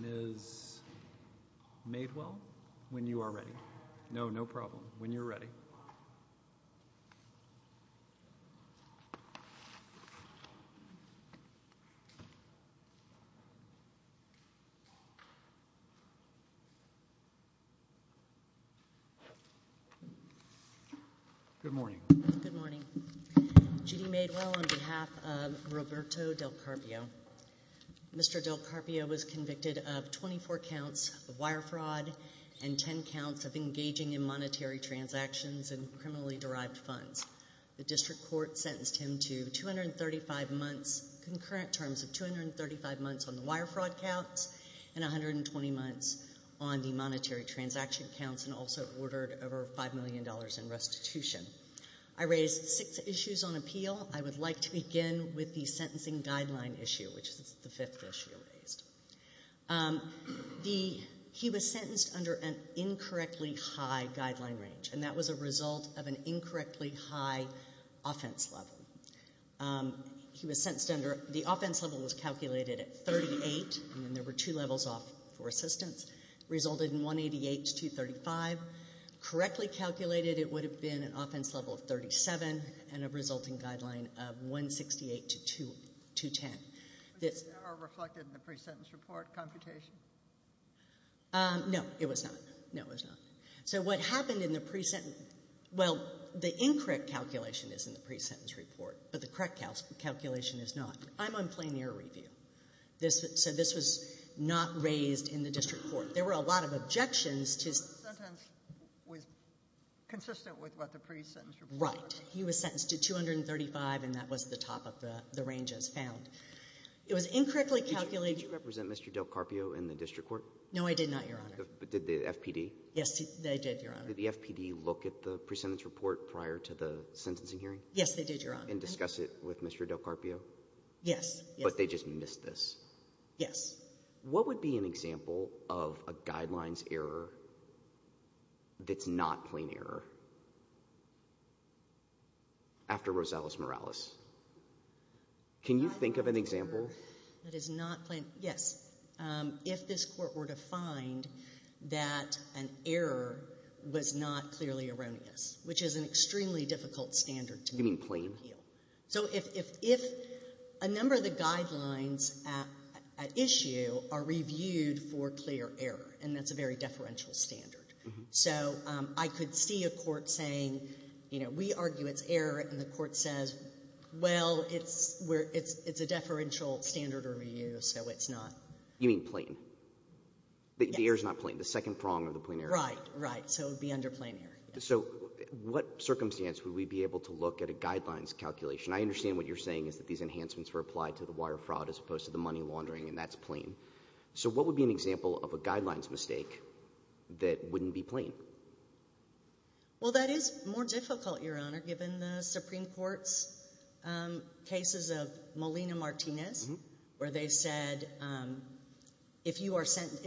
Ms. Maidwell, when you are ready, no, no problem, when you're ready. Mr. Del Carpio was convicted of 24 counts of wire fraud and 10 counts of engaging in criminal transactions and criminally derived funds. The district court sentenced him to 235 months, concurrent terms of 235 months on the wire fraud counts and 120 months on the monetary transaction counts and also ordered over $5 million in restitution. I raised six issues on appeal. I would like to begin with the sentencing guideline issue, which is the fifth issue raised. He was sentenced under an incorrectly high guideline range, and that was a result of an incorrectly high offense level. He was sentenced under, the offense level was calculated at 38, and there were two levels off for assistance. It resulted in 188 to 235. Correctly calculated, it would have been an offense level of 37 and a resulting guideline of 168 to 210. Was that ever reflected in the pre-sentence report computation? No, it was not. No, it was not. So what happened in the pre-sentence, well, the incorrect calculation is in the pre-sentence report, but the correct calculation is not. I'm on plenary review. So this was not raised in the district court. There were a lot of objections to Sentence was consistent with what the pre-sentence report was. Right. He was sentenced to 235, and that was the top of the range as found. It was incorrectly calculated Did you represent Mr. DelCarpio in the district court? No, I did not, Your Honor. But did the FPD? Yes, they did, Your Honor. Did the FPD look at the pre-sentence report prior to the sentencing hearing? Yes, they did, Your Honor. And discuss it with Mr. DelCarpio? Yes. But they just missed this? Yes. What would be an example of a guidelines error that's not plain error after Rosales-Morales? Can you think of an example? That is not plain. Yes. If this Court were to find that an error was not clearly erroneous, which is an extremely difficult standard to make. You mean plain? So if a number of the guidelines at issue are reviewed for clear error, and that's a very deferential standard. So I could see a court saying, you know, we argue it's error, and the court says, well, it's a deferential standard review, so it's not. You mean plain? Yes. The error's not plain? The second prong of the plain error? Right, right. So it would be under plain error. So what circumstance would we be able to look at a guidelines calculation? I understand what you're saying is that these enhancements were applied to the wire fraud as opposed to the money laundering, and that's plain. So what would be an example of a guidelines mistake that wouldn't be plain? Well, that is more difficult, Your Honor, given the Supreme Court's cases of Molina-Martinez, where they said if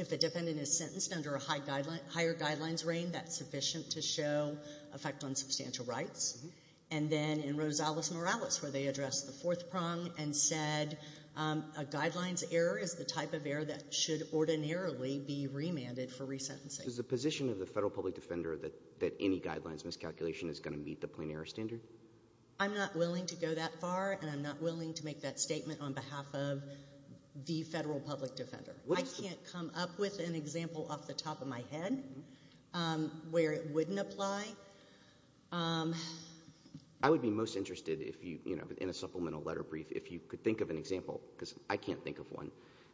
the defendant is sentenced under a higher guidelines reign, that's sufficient to show effect on substantial rights. And then in Rosales-Morales, where they addressed the fourth prong and said a guidelines error is the type of error that should ordinarily be remanded for resentencing. Is the position of the federal public defender that any guidelines miscalculation is going to meet the plain error standard? I'm not willing to go that far, and I'm not willing to make that statement on behalf of the federal public defender. I can't come up with an example off the top of my head where it wouldn't apply. I would be most interested, in a supplemental letter brief, if you could think of an example, because I can't think of one.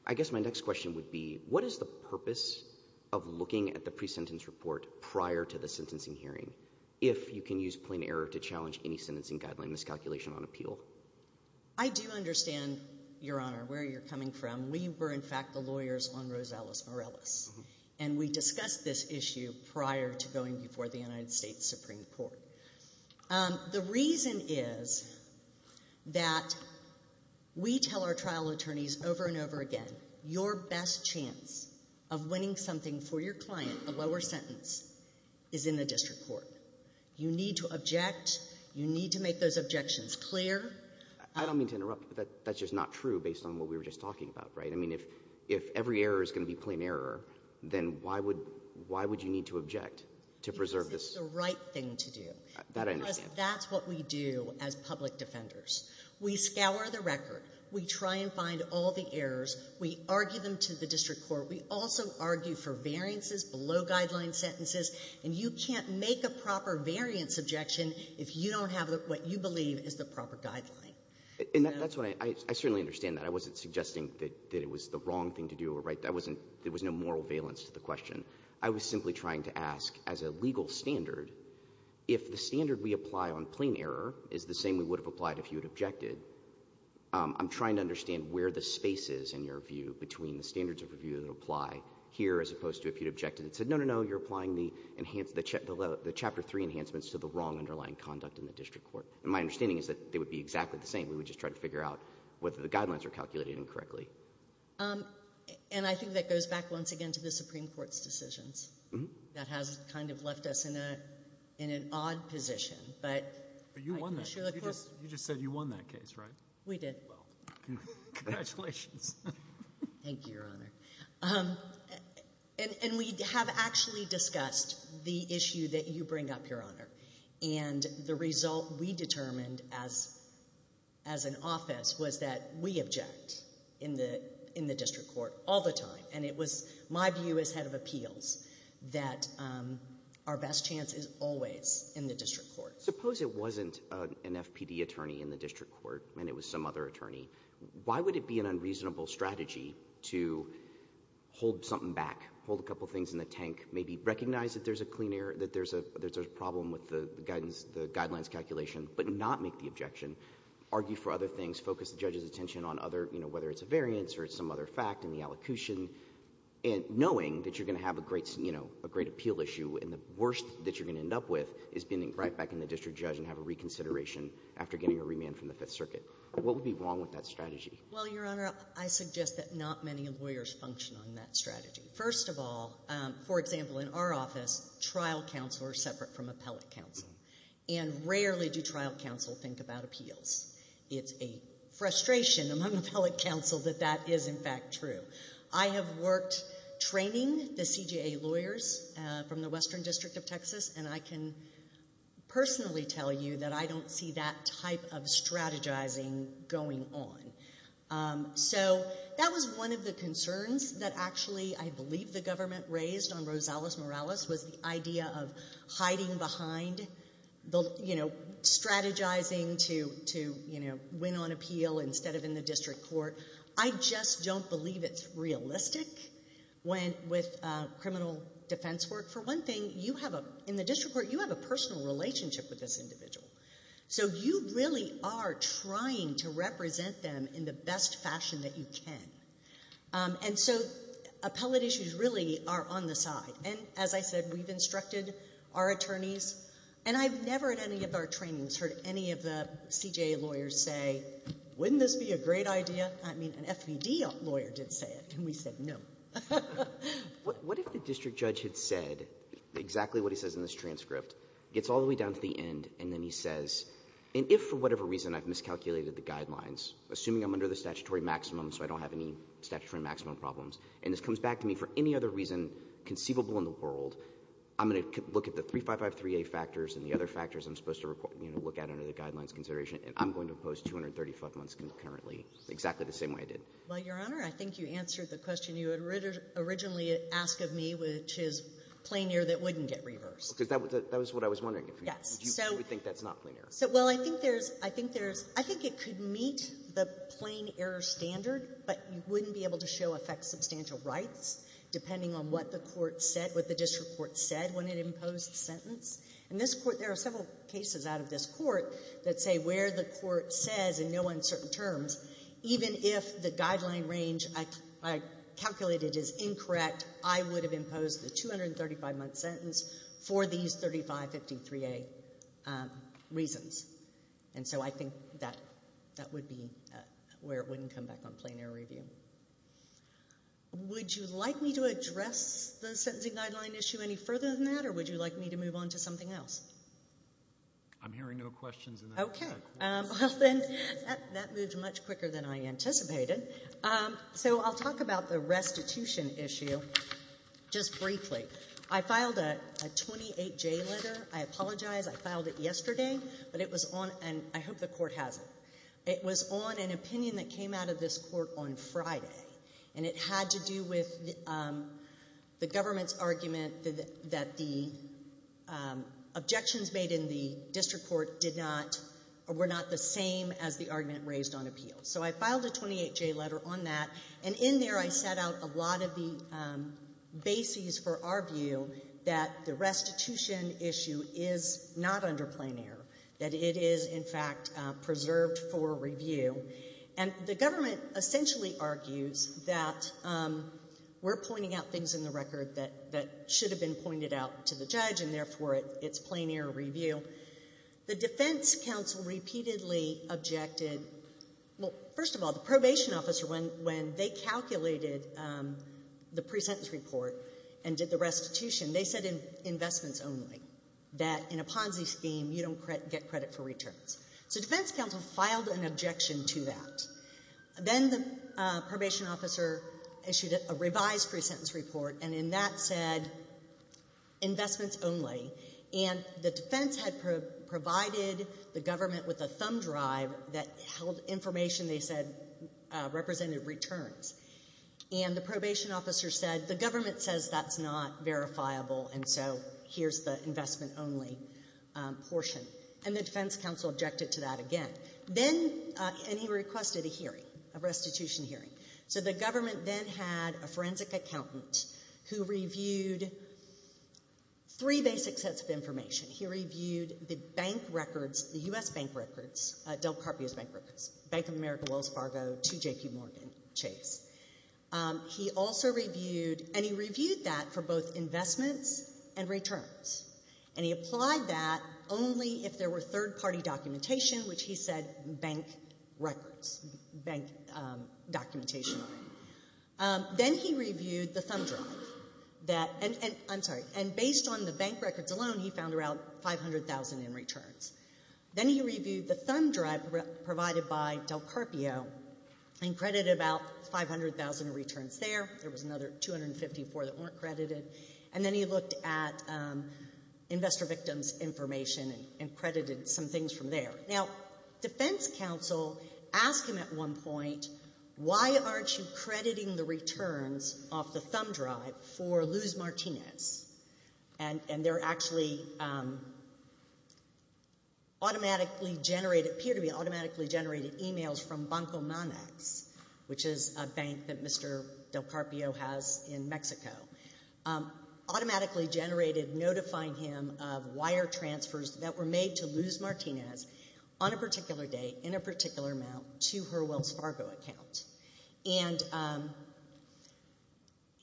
I guess my next question would be, what is the purpose of looking at the pre-sentence report prior to the sentencing hearing, if you can use plain error to challenge any sentencing guideline miscalculation on appeal? I do understand, Your Honor, where you're coming from. We were, in fact, the lawyers on Rosales-Morales, and we discussed this issue prior to going before the United States Supreme Court. The reason is that we tell our trial attorneys over and over again, your best chance of winning something for your client, a lower sentence, is in the district court. You need to object. You need to make those objections clear. I don't mean to interrupt, but that's just not true based on what we were just talking about, right? I mean, if every error is going to be plain error, then why would you need to object to preserve this? That's the right thing to do. That I understand. Because that's what we do as public defenders. We scour the record. We try and find all the errors. We argue them to the district court. We also argue for variances below guideline sentences. And you can't make a proper variance objection if you don't have what you believe is the proper guideline. And that's why I certainly understand that. I wasn't suggesting that it was the wrong thing to do or right. There was no moral valence to the question. I was simply trying to ask, as a legal standard, if the standard we apply on plain error is the same we would have applied if you had objected, I'm trying to understand where the space is in your view between the standards of review that apply here as opposed to if you'd objected and said, no, no, no, you're applying the chapter 3 enhancements to the wrong underlying conduct in the district court. And my understanding is that they would be exactly the same. We would just try to figure out whether the guidelines are calculated incorrectly. And I think that goes back once again to the Supreme Court's decisions. That has kind of left us in an odd position. But you won that case. You just said you won that case, right? We did. Congratulations. Thank you, Your Honor. And we have actually discussed the issue that you bring up, Your Honor. And the result we determined as an office was that we object in the district court all the time. And it was my view as head of appeals that our best chance is always in the district court. Suppose it wasn't an FPD attorney in the district court and it was some other attorney. Why would it be an unreasonable strategy to hold something back, hold a couple things in the tank, maybe recognize that there's a clean air, that there's a problem with the guidelines calculation, but not make the objection, argue for other things, focus the judge's attention on other, whether it's a variance or some other fact in the allocution, knowing that you're going to have a great appeal issue and the worst that you're going to end up with is being right back in the district judge and have a reconsideration after getting a remand from the Fifth Circuit. What would be wrong with that strategy? Well, Your Honor, I suggest that not many lawyers function on that strategy. First of all, for example, in our office, trial counsel are separate from appellate counsel and rarely do trial counsel think about appeals. It's a frustration among appellate counsel that that is in fact true. I have worked training the CJA lawyers from the Western District of Texas and I can personally tell you that I don't see that type of strategizing going on. So that was one of the concerns that actually I believe the government raised on Rosales Morales was the idea of hiding behind, you know, strategizing to, you know, win on appeal instead of in the district court. I just don't believe it's realistic with criminal defense work. For one thing, you have a, in the district court, you have a personal relationship with this individual. So you really are trying to represent them in the best fashion that you can. And so appellate issues really are on the side. And as I said, we've instructed our attorneys and I've never at any of our trainings heard any of the CJA lawyers say, wouldn't this be a great idea? I mean, an FPD lawyer did say it and we said no. What if the district judge had said exactly what he says in this transcript, gets all the way down to the end, and then he says, and if for whatever reason I've miscalculated the guidelines, assuming I'm under the statutory maximum so I don't have any statutory maximum problems, and this comes back to me for any other reason conceivable in the world, I'm going to look at the 3553A factors and the other factors I'm supposed to look at under the guidelines consideration and I'm going to impose 235 months concurrently, exactly the same way I did. Well, Your Honor, I think you answered the question you had originally asked of me, which is plain air that wouldn't get reversed. Because that was what I was wondering. Yes. Do you think that's not plain air? Well, I think there's, I think it could meet the plain air standard, but you wouldn't be able to show effect substantial rights depending on what the court said, what the district court said when it imposed the sentence. In this court, there are several cases out of this court that say where the court says in no uncertain terms, even if the guideline range I calculated is incorrect, that I would have imposed the 235-month sentence for these 3553A reasons. And so I think that would be where it wouldn't come back on plain air review. Would you like me to address the sentencing guideline issue any further than that, or would you like me to move on to something else? I'm hearing no questions in that regard. Well, then, that moved much quicker than I anticipated. So I'll talk about the restitution issue just briefly. I filed a 28-J letter. I apologize. I filed it yesterday, but it was on, and I hope the court has it. It was on an opinion that came out of this court on Friday, and it had to do with the government's argument that the objections made in the district court did not, were not the same as the argument raised on appeals. So I filed a 28-J letter on that, and in there I set out a lot of the bases for our view that the restitution issue is not under plain air, that it is, in fact, preserved for review. And the government essentially argues that we're pointing out things in the record that should have been pointed out to the judge, and therefore it's plain air review. The defense counsel repeatedly objected, well, first of all, the probation officer, when they calculated the pre-sentence report and did the restitution, they said investments only, that in a Ponzi scheme you don't get credit for returns. So defense counsel filed an objection to that. Then the probation officer issued a revised pre-sentence report, and in that said investments only, and the defense had provided the government with a thumb drive that held information they said represented returns. And the probation officer said, the government says that's not verifiable, and so here's the investment only portion. And the defense counsel objected to that again. Then, and he requested a hearing, a restitution hearing. So the government then had a forensic accountant who reviewed three basic sets of information. He reviewed the bank records, the U.S. bank records, Del Carpio's bank records, Bank of America, Wells Fargo, to J.P. Morgan Chase. He also reviewed, and he reviewed that for both investments and returns. And he applied that only if there were third-party documentation, which he said bank records, bank documentation only. Then he reviewed the thumb drive, and based on the bank records alone, he found around 500,000 in returns. Then he reviewed the thumb drive provided by Del Carpio, and credited about 500,000 in returns there. There was another 254 that weren't credited. And then he looked at investor victims' information, and credited some things from there. Now, defense counsel asked him at one point, why aren't you crediting the returns off the thumb drive for Luz Martinez? And they're actually automatically generated, appear to be automatically generated emails from Banco Manex, which is a bank that Mr. Del Carpio has in Mexico. Automatically generated, notifying him of wire transfers that were made to Luz Martinez on a particular day, in a particular amount, to her Wells Fargo account. And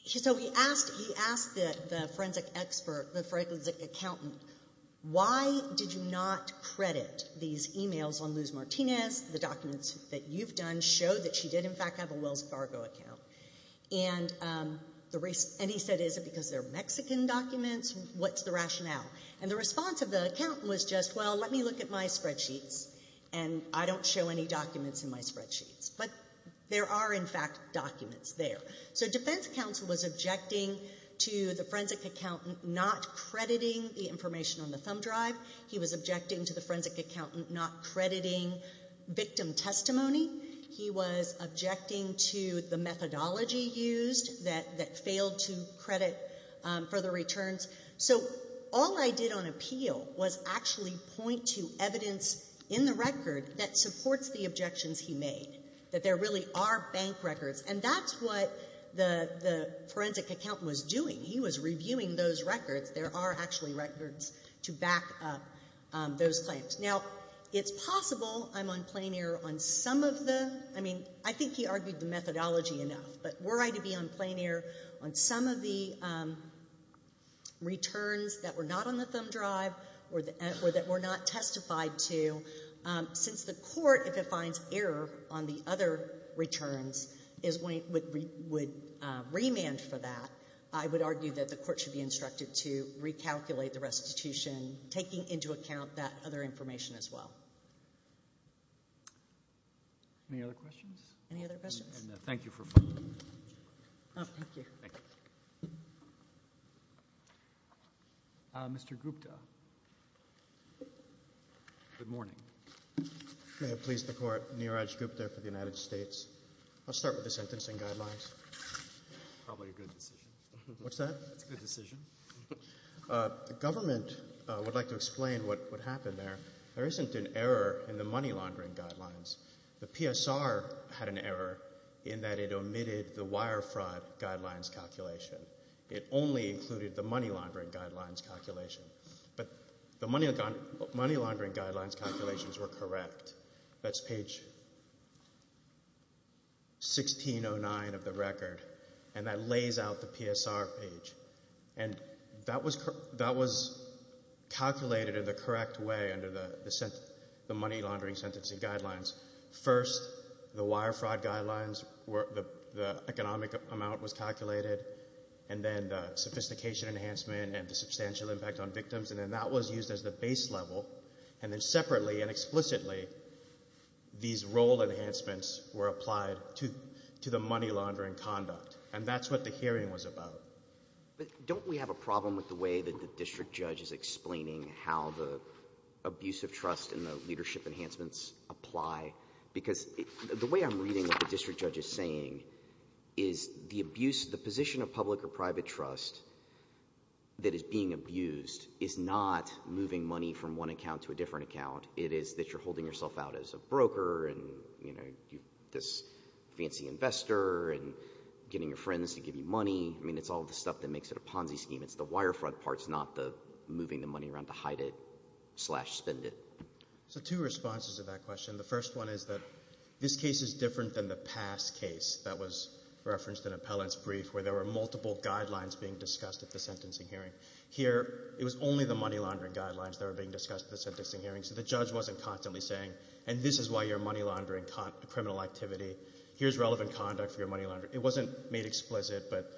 so he asked the forensic expert, the forensic accountant, why did you not credit these emails on Luz Martinez? The documents that you've done show that she did in fact have a Wells Fargo account. And he said, is it because they're Mexican documents? What's the rationale? And the response of the accountant was just, well, let me look at my spreadsheets, and I don't show any documents in my spreadsheets. But there are in fact documents there. So defense counsel was objecting to the forensic accountant not crediting the information on the thumb drive. He was objecting to the forensic accountant not crediting victim testimony. He was objecting to the methodology used, that failed to credit for the returns. So all I did on appeal was actually point to evidence in the record that supports the objections he made, that there really are bank records. And that's what the forensic accountant was doing. He was reviewing those records. There are actually records to back up those claims. Now, it's possible I'm on plain air on some of the... I mean, I think he argued the methodology enough. But were I to be on plain air on some of the... returns that were not on the thumb drive, or that were not testified to, since the court, if it finds error on the other returns, would remand for that, I would argue that the court should be instructed to recalculate the restitution, taking into account that other information as well. Any other questions? Any other questions? And thank you for following. Thank you. Mr. Gupta. Good morning. May it please the court, Neeraj Gupta for the United States. I'll start with the sentencing guidelines. Probably a good decision. What's that? That's a good decision. The government would like to explain what happened there. There isn't an error in the money laundering guidelines. The PSR had an error in that it omitted the wire fraud guidelines calculation. It only included the money laundering guidelines calculation. But the money laundering guidelines calculations were correct. That's page 1609 of the record. And that lays out the PSR page. And that was calculated in the correct way under the money laundering sentencing guidelines. First, the wire fraud guidelines, the economic amount was calculated, and then the sophistication enhancement and the substantial impact on victims. And then that was used as the base level. And then separately and explicitly, these role enhancements were applied to the money laundering conduct. And that's what the hearing was about. But don't we have a problem with the way that the district judge is explaining how the abuse of trust and the leadership enhancements apply? Because the way I'm reading what the district judge is saying is the abuse, the position of public or private trust that is being abused is not moving money from one account to a different account. It is that you're holding yourself out as a broker and, you know, this fancy investor and getting your friends to give you money. I mean, it's all the stuff that makes it a Ponzi scheme. It's the wire fraud part. It's not the moving the money around to hide it slash spend it. So two responses to that question. The first one is that this case is different than the past case that was referenced in Appellant's brief where there were multiple guidelines being discussed at the sentencing hearing. Here, it was only the money laundering guidelines that were being discussed at the sentencing hearing. So the judge wasn't constantly saying, and this is why you're money laundering criminal activity. Here's relevant conduct for your money laundering. It wasn't made explicit, but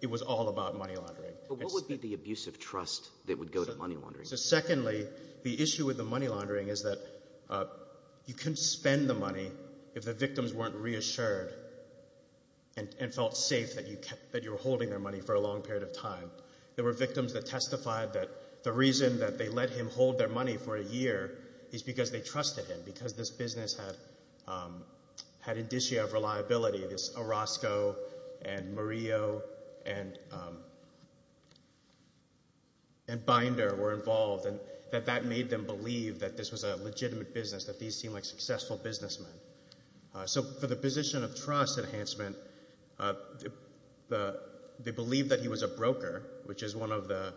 it was all about money laundering. But what would be the abuse of trust that would go to money laundering? So secondly, the issue with the money laundering is that you couldn't spend the money if the victims weren't reassured and felt safe that you were holding their money for a long period of time. There were victims that testified that the reason that they let him hold their money for a year is because they trusted him because this business had had indicia of reliability. This Orozco and Murillo and Binder were involved and that that made them believe that this was a legitimate business, that these seemed like successful businessmen. So for the position of trust enhancement, they believed that he was a broker, which is one of the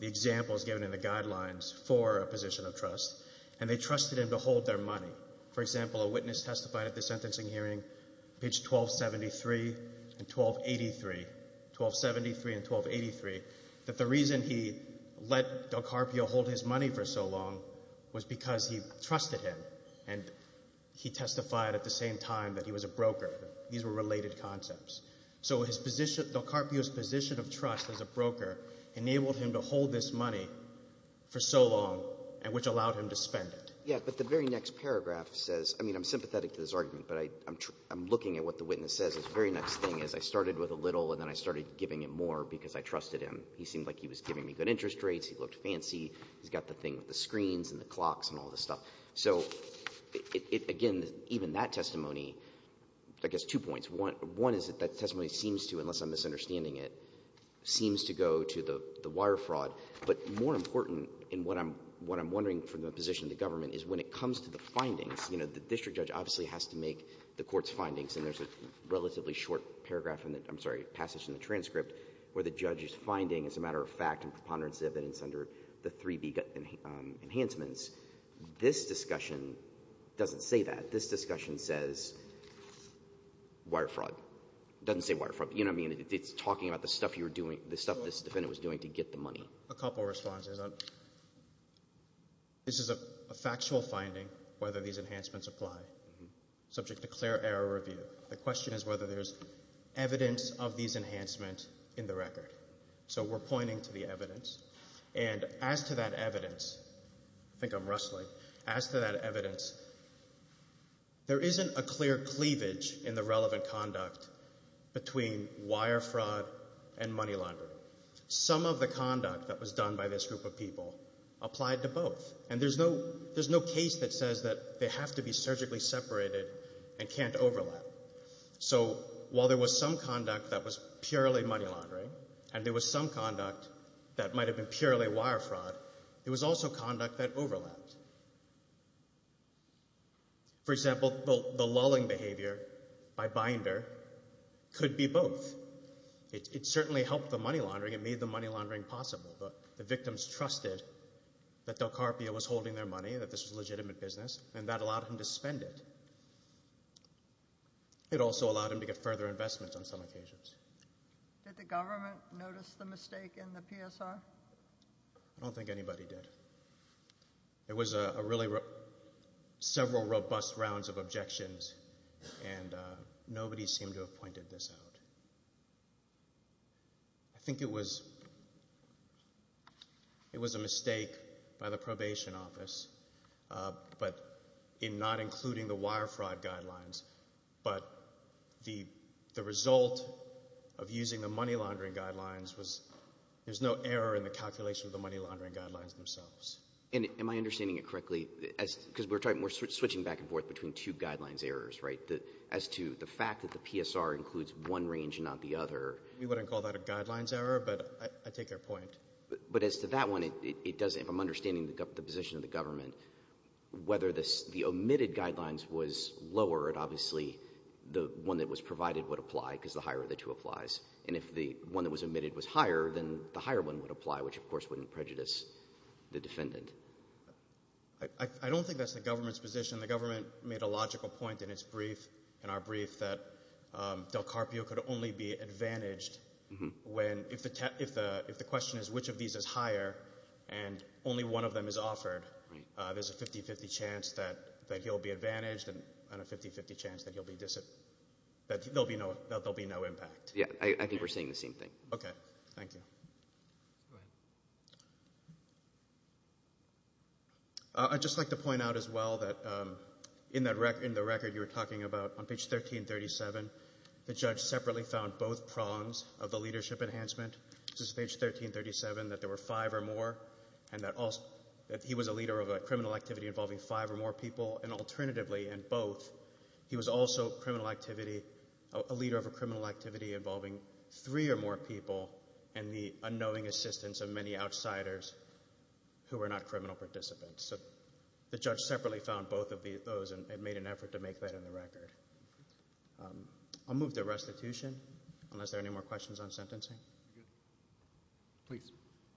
examples given in the guidelines for a position of trust, and they trusted him to hold their money. For example, a witness testified at the sentencing hearing, page 1273 and 1283, 1273 and 1283, that the reason he let DelCarpio hold his money for so long was because he trusted him and he testified at the same time that he was a broker. These were related concepts. So DelCarpio's position of trust as a broker enabled him to hold this money for so long and which allowed him to spend it. Yeah, but the very next paragraph says, I mean, I'm sympathetic to this argument, but I'm looking at what the witness says. The very next thing is, I started with a little and then I started giving it more because I trusted him. He seemed like he was giving me good interest rates, he looked fancy, he's got the thing with the screens and the clocks and all this stuff. So, again, even that testimony, I guess two points. One is that that testimony seems to, unless I'm misunderstanding it, seems to go to the wire fraud, but more important in what I'm wondering for the position of the government is when it comes to the findings, you know, the district judge obviously has to make the court's findings, and there's a passage in the transcript where the judge is finding as a matter of fact and preponderance evidence under the 3B enhancements. This discussion doesn't say that. This discussion says wire fraud. It doesn't say wire fraud. You know what I mean? It's talking about the stuff this defendant was doing to get the money. A couple responses. This is a factual finding, whether these enhancements apply, subject to clear error review. The question is evidence of these enhancements in the record. So we're pointing to the evidence, and as to that evidence, I think I'm rustling, as to that evidence, there isn't a clear cleavage in the relevant conduct between wire fraud and money laundering. Some of the conduct that was done by this group of people applied to both, and there's no case that says that they have to be surgically separated and can't overlap. So while there was some conduct that was purely money laundering, and there was some conduct that might have been purely wire fraud, there was also conduct that overlapped. For example, the lulling behavior by Binder could be both. It certainly helped the money laundering, it made the money laundering possible. The victims trusted that Del Carpio was holding their money, that this was legitimate business, and that allowed them to get further investments on some occasions. Did the government notice the mistake in the PSR? I don't think anybody did. It was a really several robust rounds of objections, and nobody seemed to have pointed this out. I think it was a mistake by the probation office, but in not including the wire fraud guidelines, but the result of using the money laundering guidelines was there's no error in the calculation of the money laundering guidelines themselves. Am I understanding it correctly? We're switching back and forth between two guidelines errors, right? As to the fact that the PSR includes one range and not the other. We wouldn't call that a guidelines error, but I take your point. But as to that one, if I'm understanding the position of the government, whether the omitted guidelines was lower, obviously the one that was provided would apply, because the higher the two applies. And if the one that was omitted was higher, then the higher one would apply, which of course wouldn't prejudice the defendant. I don't think that's the government's position. The government made a logical point in its brief, in our brief, that Del Carpio could only be advantaged if the question is which of these is higher, and only one of them is offered. There's a 50-50 chance that he'll be advantaged, and a 50-50 chance that there'll be no impact. I think we're saying the same thing. I'd just like to point out as well that in the record you were talking about, on page 1337, the judge separately found both prongs of the leadership enhancement. This is page 1337, that there were five or more, and that he was a leader of a criminal activity involving five or more people, and alternatively, in both, he was also a leader of a criminal activity involving three or more people, and the unknowing assistance of many outsiders who were not criminal participants. The judge separately found both of those, and made an effort to make that in the record. I'll move to restitution, unless there are any more questions on sentencing.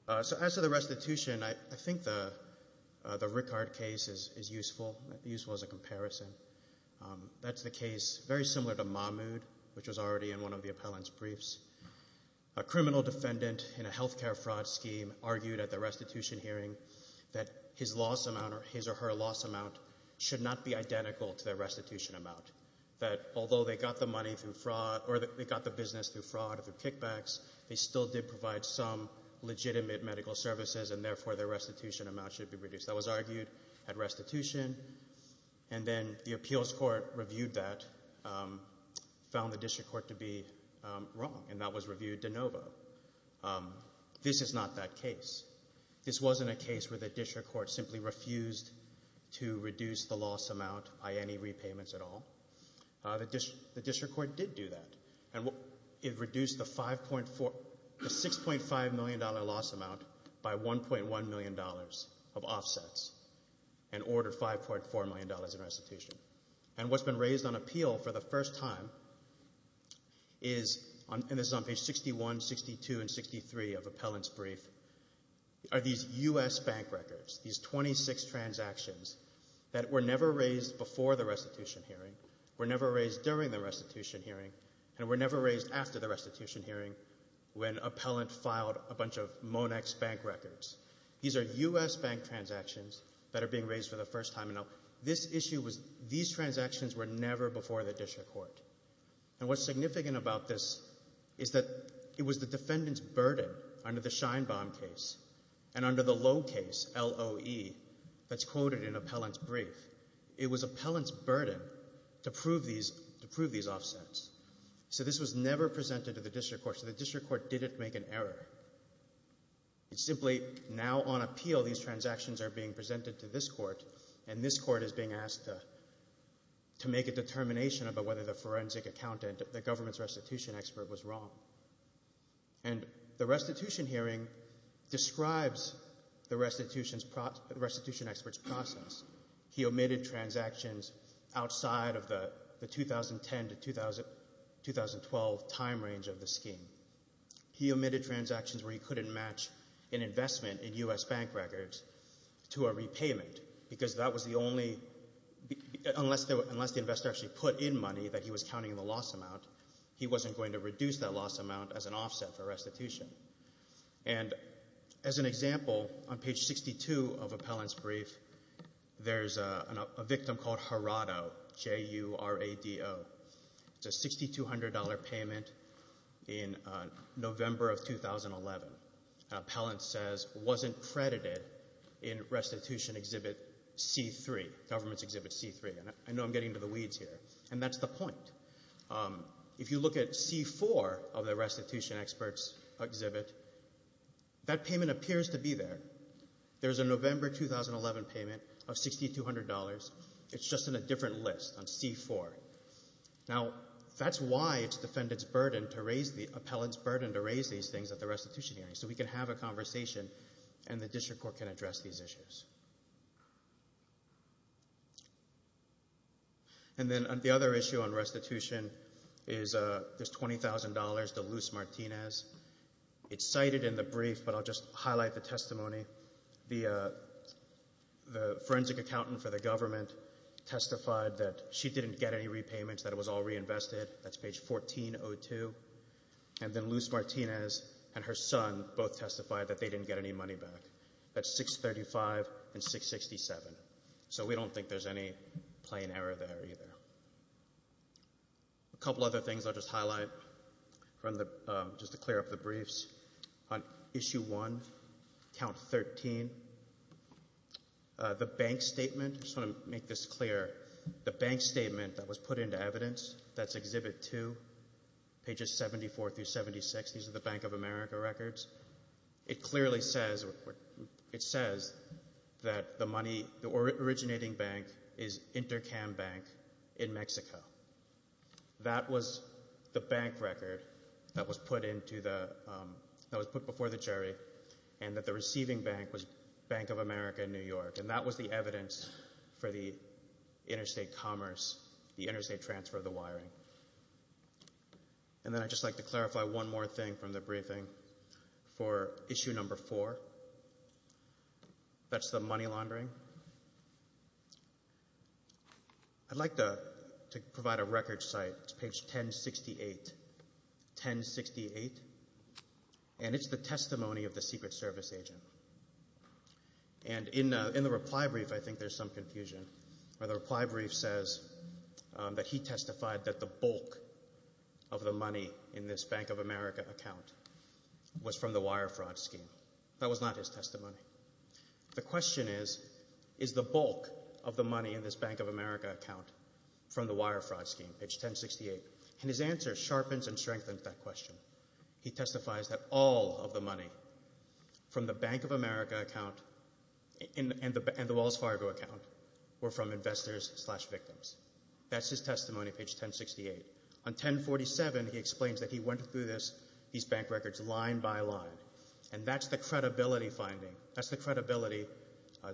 As to the restitution, I think the Rickard case is useful as a comparison. That's the case very similar to Mahmood, which was already in one of the appellant's briefs. A criminal defendant in a healthcare fraud scheme argued at the restitution hearing that his or her loss amount should not be identical to their restitution amount, that although they got the business through fraud or through kickbacks, they still did provide some legitimate medical services, and therefore their restitution amount should be reduced. That was argued at restitution, and then the appeals court reviewed that, found the district court to be wrong, and that was reviewed de novo. This is not that case. This wasn't a case where the district court simply refused to reduce the loss amount by any repayments at all. The district court did do that, and it reduced the $6.5 million loss amount by $1.1 million of offsets and ordered $5.4 million in restitution. What's been raised on appeal for the first time is on page 61, 62, and 63 of appellant's brief are these U.S. bank records, these 26 transactions that were never raised before the restitution hearing, were never raised during the restitution hearing, and were never raised after the restitution hearing when appellant filed a bunch of Monex bank records. These are U.S. bank transactions that are being raised for the first time. These transactions were never before the district court. What's significant about this is that it was the defendant's burden under the Scheinbaum case and under the Lowe case, L-O-E, that's quoted in appellant's brief. It was appellant's duty to prove these offsets. This was never presented to the district court, so the district court didn't make an error. It's simply now on appeal, these transactions are being presented to this court, and this court is being asked to make a determination about whether the forensic accountant, the government's restitution expert, was wrong. The restitution hearing describes the restitution expert's process. He omitted transactions outside of the 2010 to 2012 time range of the scheme. He omitted transactions where he couldn't match an investment in U.S. bank records to a repayment because that was the only unless the investor actually put in money that he was counting the loss amount, he wasn't going to reduce that loss amount as an offset for restitution. As an example, on page 62 of appellant's brief, there's a victim called Harado, J-U-R-A-D-O. It's a $6,200 payment in November of 2011. Appellant says wasn't credited in restitution exhibit C3, government's exhibit C3. I know I'm getting into the weeds here, and that's the point. If you look at C4 of the restitution expert's exhibit, that payment appears to be there. There's a November 2011 payment of $6,200. It's just in a different list on C4. Now, that's why it's defendant's burden to raise the appellant's burden to raise these things at the restitution hearing so we can have a conversation and the district court can address these issues. And then the other issue on restitution is there's $20,000 to Luz Martinez. It's cited in the testimony. The forensic accountant for the government testified that she didn't get any repayments, that it was all reinvested. That's page 1402. And then Luz Martinez and her son both testified that they didn't get any money back. That's 635 and 667. So we don't think there's any plain error there either. A couple other things I'll just highlight just to clear up the briefs. On Issue 1, Count 13, the bank statement, I just want to make this clear, the bank statement that was put into evidence, that's Exhibit 2, pages 74 through 76, these are the Bank of America records, it clearly says that the money, the originating bank is Intercam Bank in Mexico. That was the bank record that was put before the jury and that the receiving bank was Bank of America in New York. And that was the evidence for the interstate commerce, the interstate transfer of the wiring. And then I'd just like to clarify one more thing from the briefing for Issue 4. That's the money laundering. I'd like to provide a records site. It's page 1068. 1068. And it's the testimony of the Secret Service agent. And in the reply brief, I think there's some confusion. The reply brief says that he testified that the bulk of the money in this Bank of America account was from the wire fraud scheme. That was not his testimony. The question is, is the bulk of the money in this Bank of America account from the wire fraud scheme? Page 1068. And his answer sharpens and strengthens that question. He testifies that all of the money from the Bank of America account and the Wells Fargo account were from investors slash victims. That's his testimony, page 1068. On 1047, he explains that he went through these bank records line by line. And that's the credibility finding. That's the credibility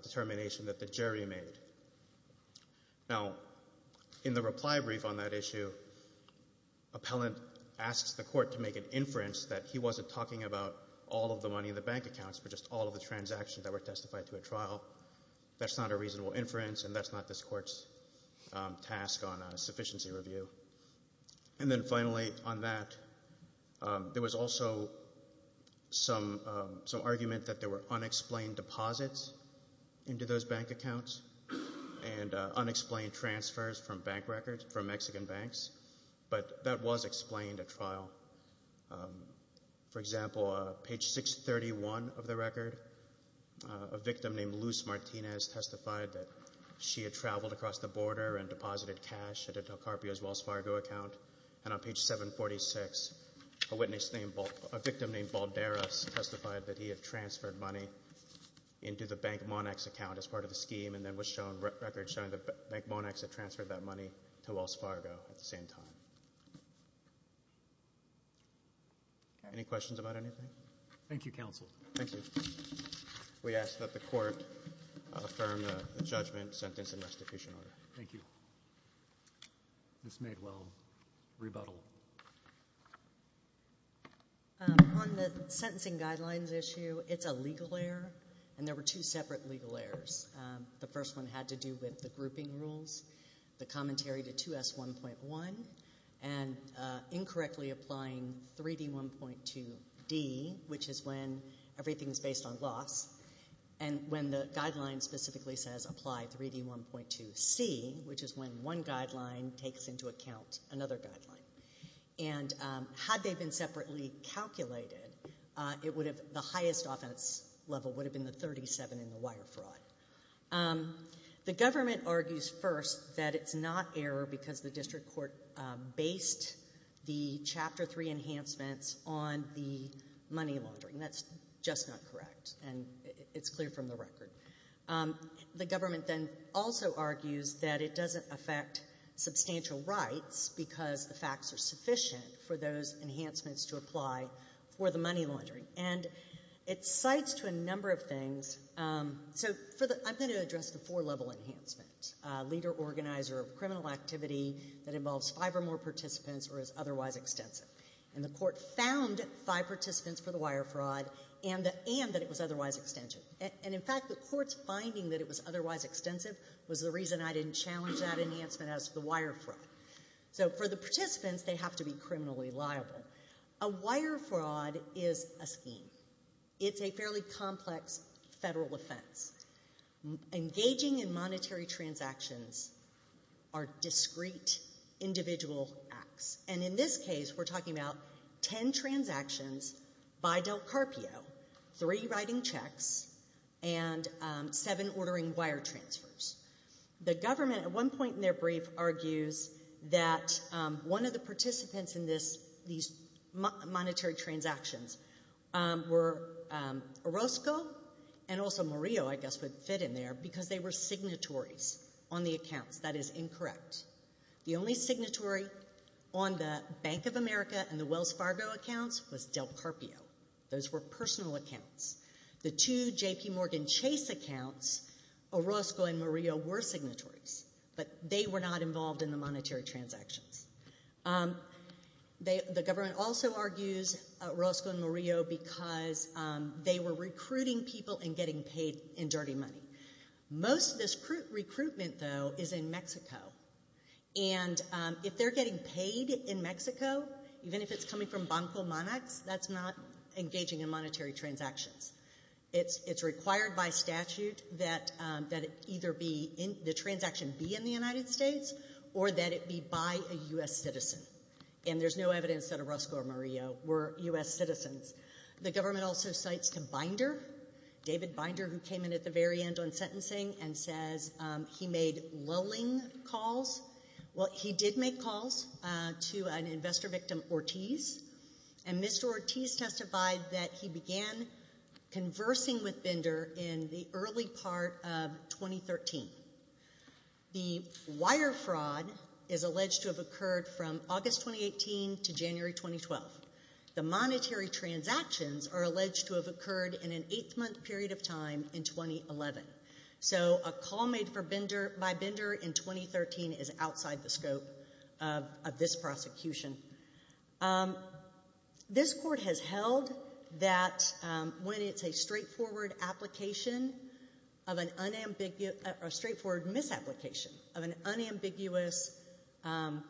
determination that the jury made. Now, in the reply brief on that issue, appellant asks the court to make an inference that he wasn't talking about all of the money in the bank accounts, but just all of the transactions that were testified to a trial. That's not a reasonable inference, and that's not this court's task on a sufficiency review. And then finally, on that, there was also some argument that there were unexplained deposits into those bank accounts and unexplained transfers from bank records, from Mexican banks, but that was explained at trial. For example, page 631 of the record, a victim named Luz Martinez testified that she had traveled across the border and deposited cash at a Del Carpio's Wells Fargo account. And on page 746, a witness named, a victim named Balderas testified that he had used the Bank Monax account as part of the scheme and then was shown records showing that Bank Monax had transferred that money to Wells Fargo at the same time. Any questions about anything? Thank you, counsel. We ask that the court affirm the judgment, sentence, and restitution order. Thank you. This may well rebuttal. On the sentencing guidelines issue, it's a legal error, and there were two separate legal errors. The first one had to do with the grouping rules, the commentary to 2S1.1, and incorrectly applying 3D1.2D, which is when everything is based on loss, and when the guideline specifically says apply 3D1.2C, which is when one guideline takes into account another guideline. Had they been separately calculated, the highest offense level would have been the 37 in the wire fraud. The government argues first that it's not error because the district court based the Chapter 3 enhancements on the money laundering. That's just not correct, and it's clear from the record. The government then also argues that it doesn't affect substantial rights because the facts are sufficient for those for the money laundering. It cites to a number of things. I'm going to address the four-level enhancement, leader organizer of criminal activity that involves five or more participants or is otherwise extensive. The court found five participants for the wire fraud and that it was otherwise extensive. In fact, the court's finding that it was otherwise extensive was the reason I didn't challenge that enhancement as to the wire fraud. For the participants, they have to be criminally liable. A wire fraud is a scheme. It's a fairly complex federal offense. Engaging in monetary transactions are discrete individual acts. In this case, we're talking about ten transactions by Del Carpio, three writing checks, and seven ordering wire transfers. The government at one point in their brief argues that one of the participants in these monetary transactions were Orozco and also Murillo, I guess, would fit in there because they were signatories on the accounts. That is incorrect. The only signatory on the Bank of America and the Wells Fargo accounts was Del Carpio. Those were personal accounts. The two JPMorgan Chase accounts, Orozco and Murillo, were signatories, but they were not involved in the monetary transactions. The government also argues Orozco and Murillo because they were recruiting people and getting paid in dirty money. Most of this recruitment, though, is in Mexico. If they're getting paid in Mexico, even if it's coming from Banco Monax, that's not engaging in monetary transactions. It's required by statute that the transaction be in the United States or that it be by a U.S. citizen. There's no evidence that Orozco or Murillo were U.S. citizens. The government also cites Binder, David Binder, who came in at the very end on sentencing and says he made lulling calls. He did make calls Ortiz, and Mr. Ortiz testified that he began conversing with Binder in the early part of 2013. The wire fraud is alleged to have occurred from August 2018 to January 2012. The monetary transactions are alleged to have occurred in an eight-month period of time in 2011. So a call made by Binder in 2013 is outside the scope of this prosecution. This court has held that when it's a straightforward misapplication of an unambiguous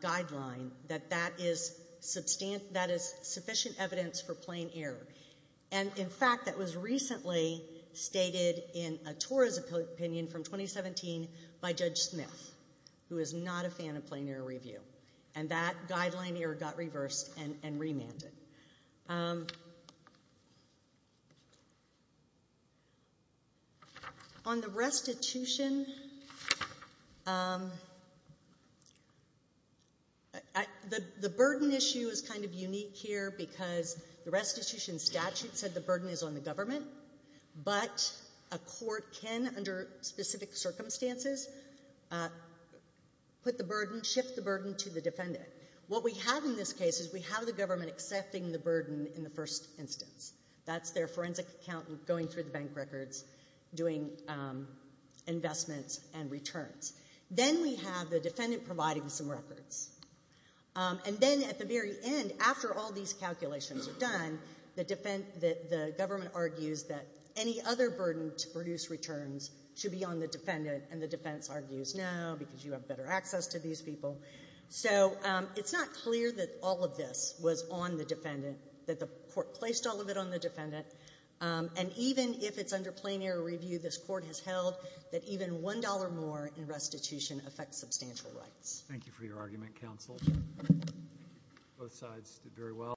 guideline, that that is sufficient evidence for plain error. In fact, that was recently stated in a TORA's opinion from 2017 by Judge Smith, who is not a fan of plain error review. That guideline error got reversed and remanded. On the restitution, the burden issue is kind of unique here because the restitution statute said the burden is on the government, but a court can, under specific circumstances, put the burden, shift the burden to the defendant. What we have in this case is we have the government accepting the burden in the first instance. That's their forensic accountant going through the bank records, doing investments and returns. Then we have the defendant providing some records. And then at the very end, after all these calculations are done, the government argues that any other burden to produce returns should be on the defendant, and the defense argues, no, because you have better access to these people. So it's not clear that all of this was on the defendant, that the court placed all of it on the defendant, and even if it's under plain error review, this court has held that even $1 more in restitution affects substantial rights. Thank you for your argument, counsel. Both sides did very well.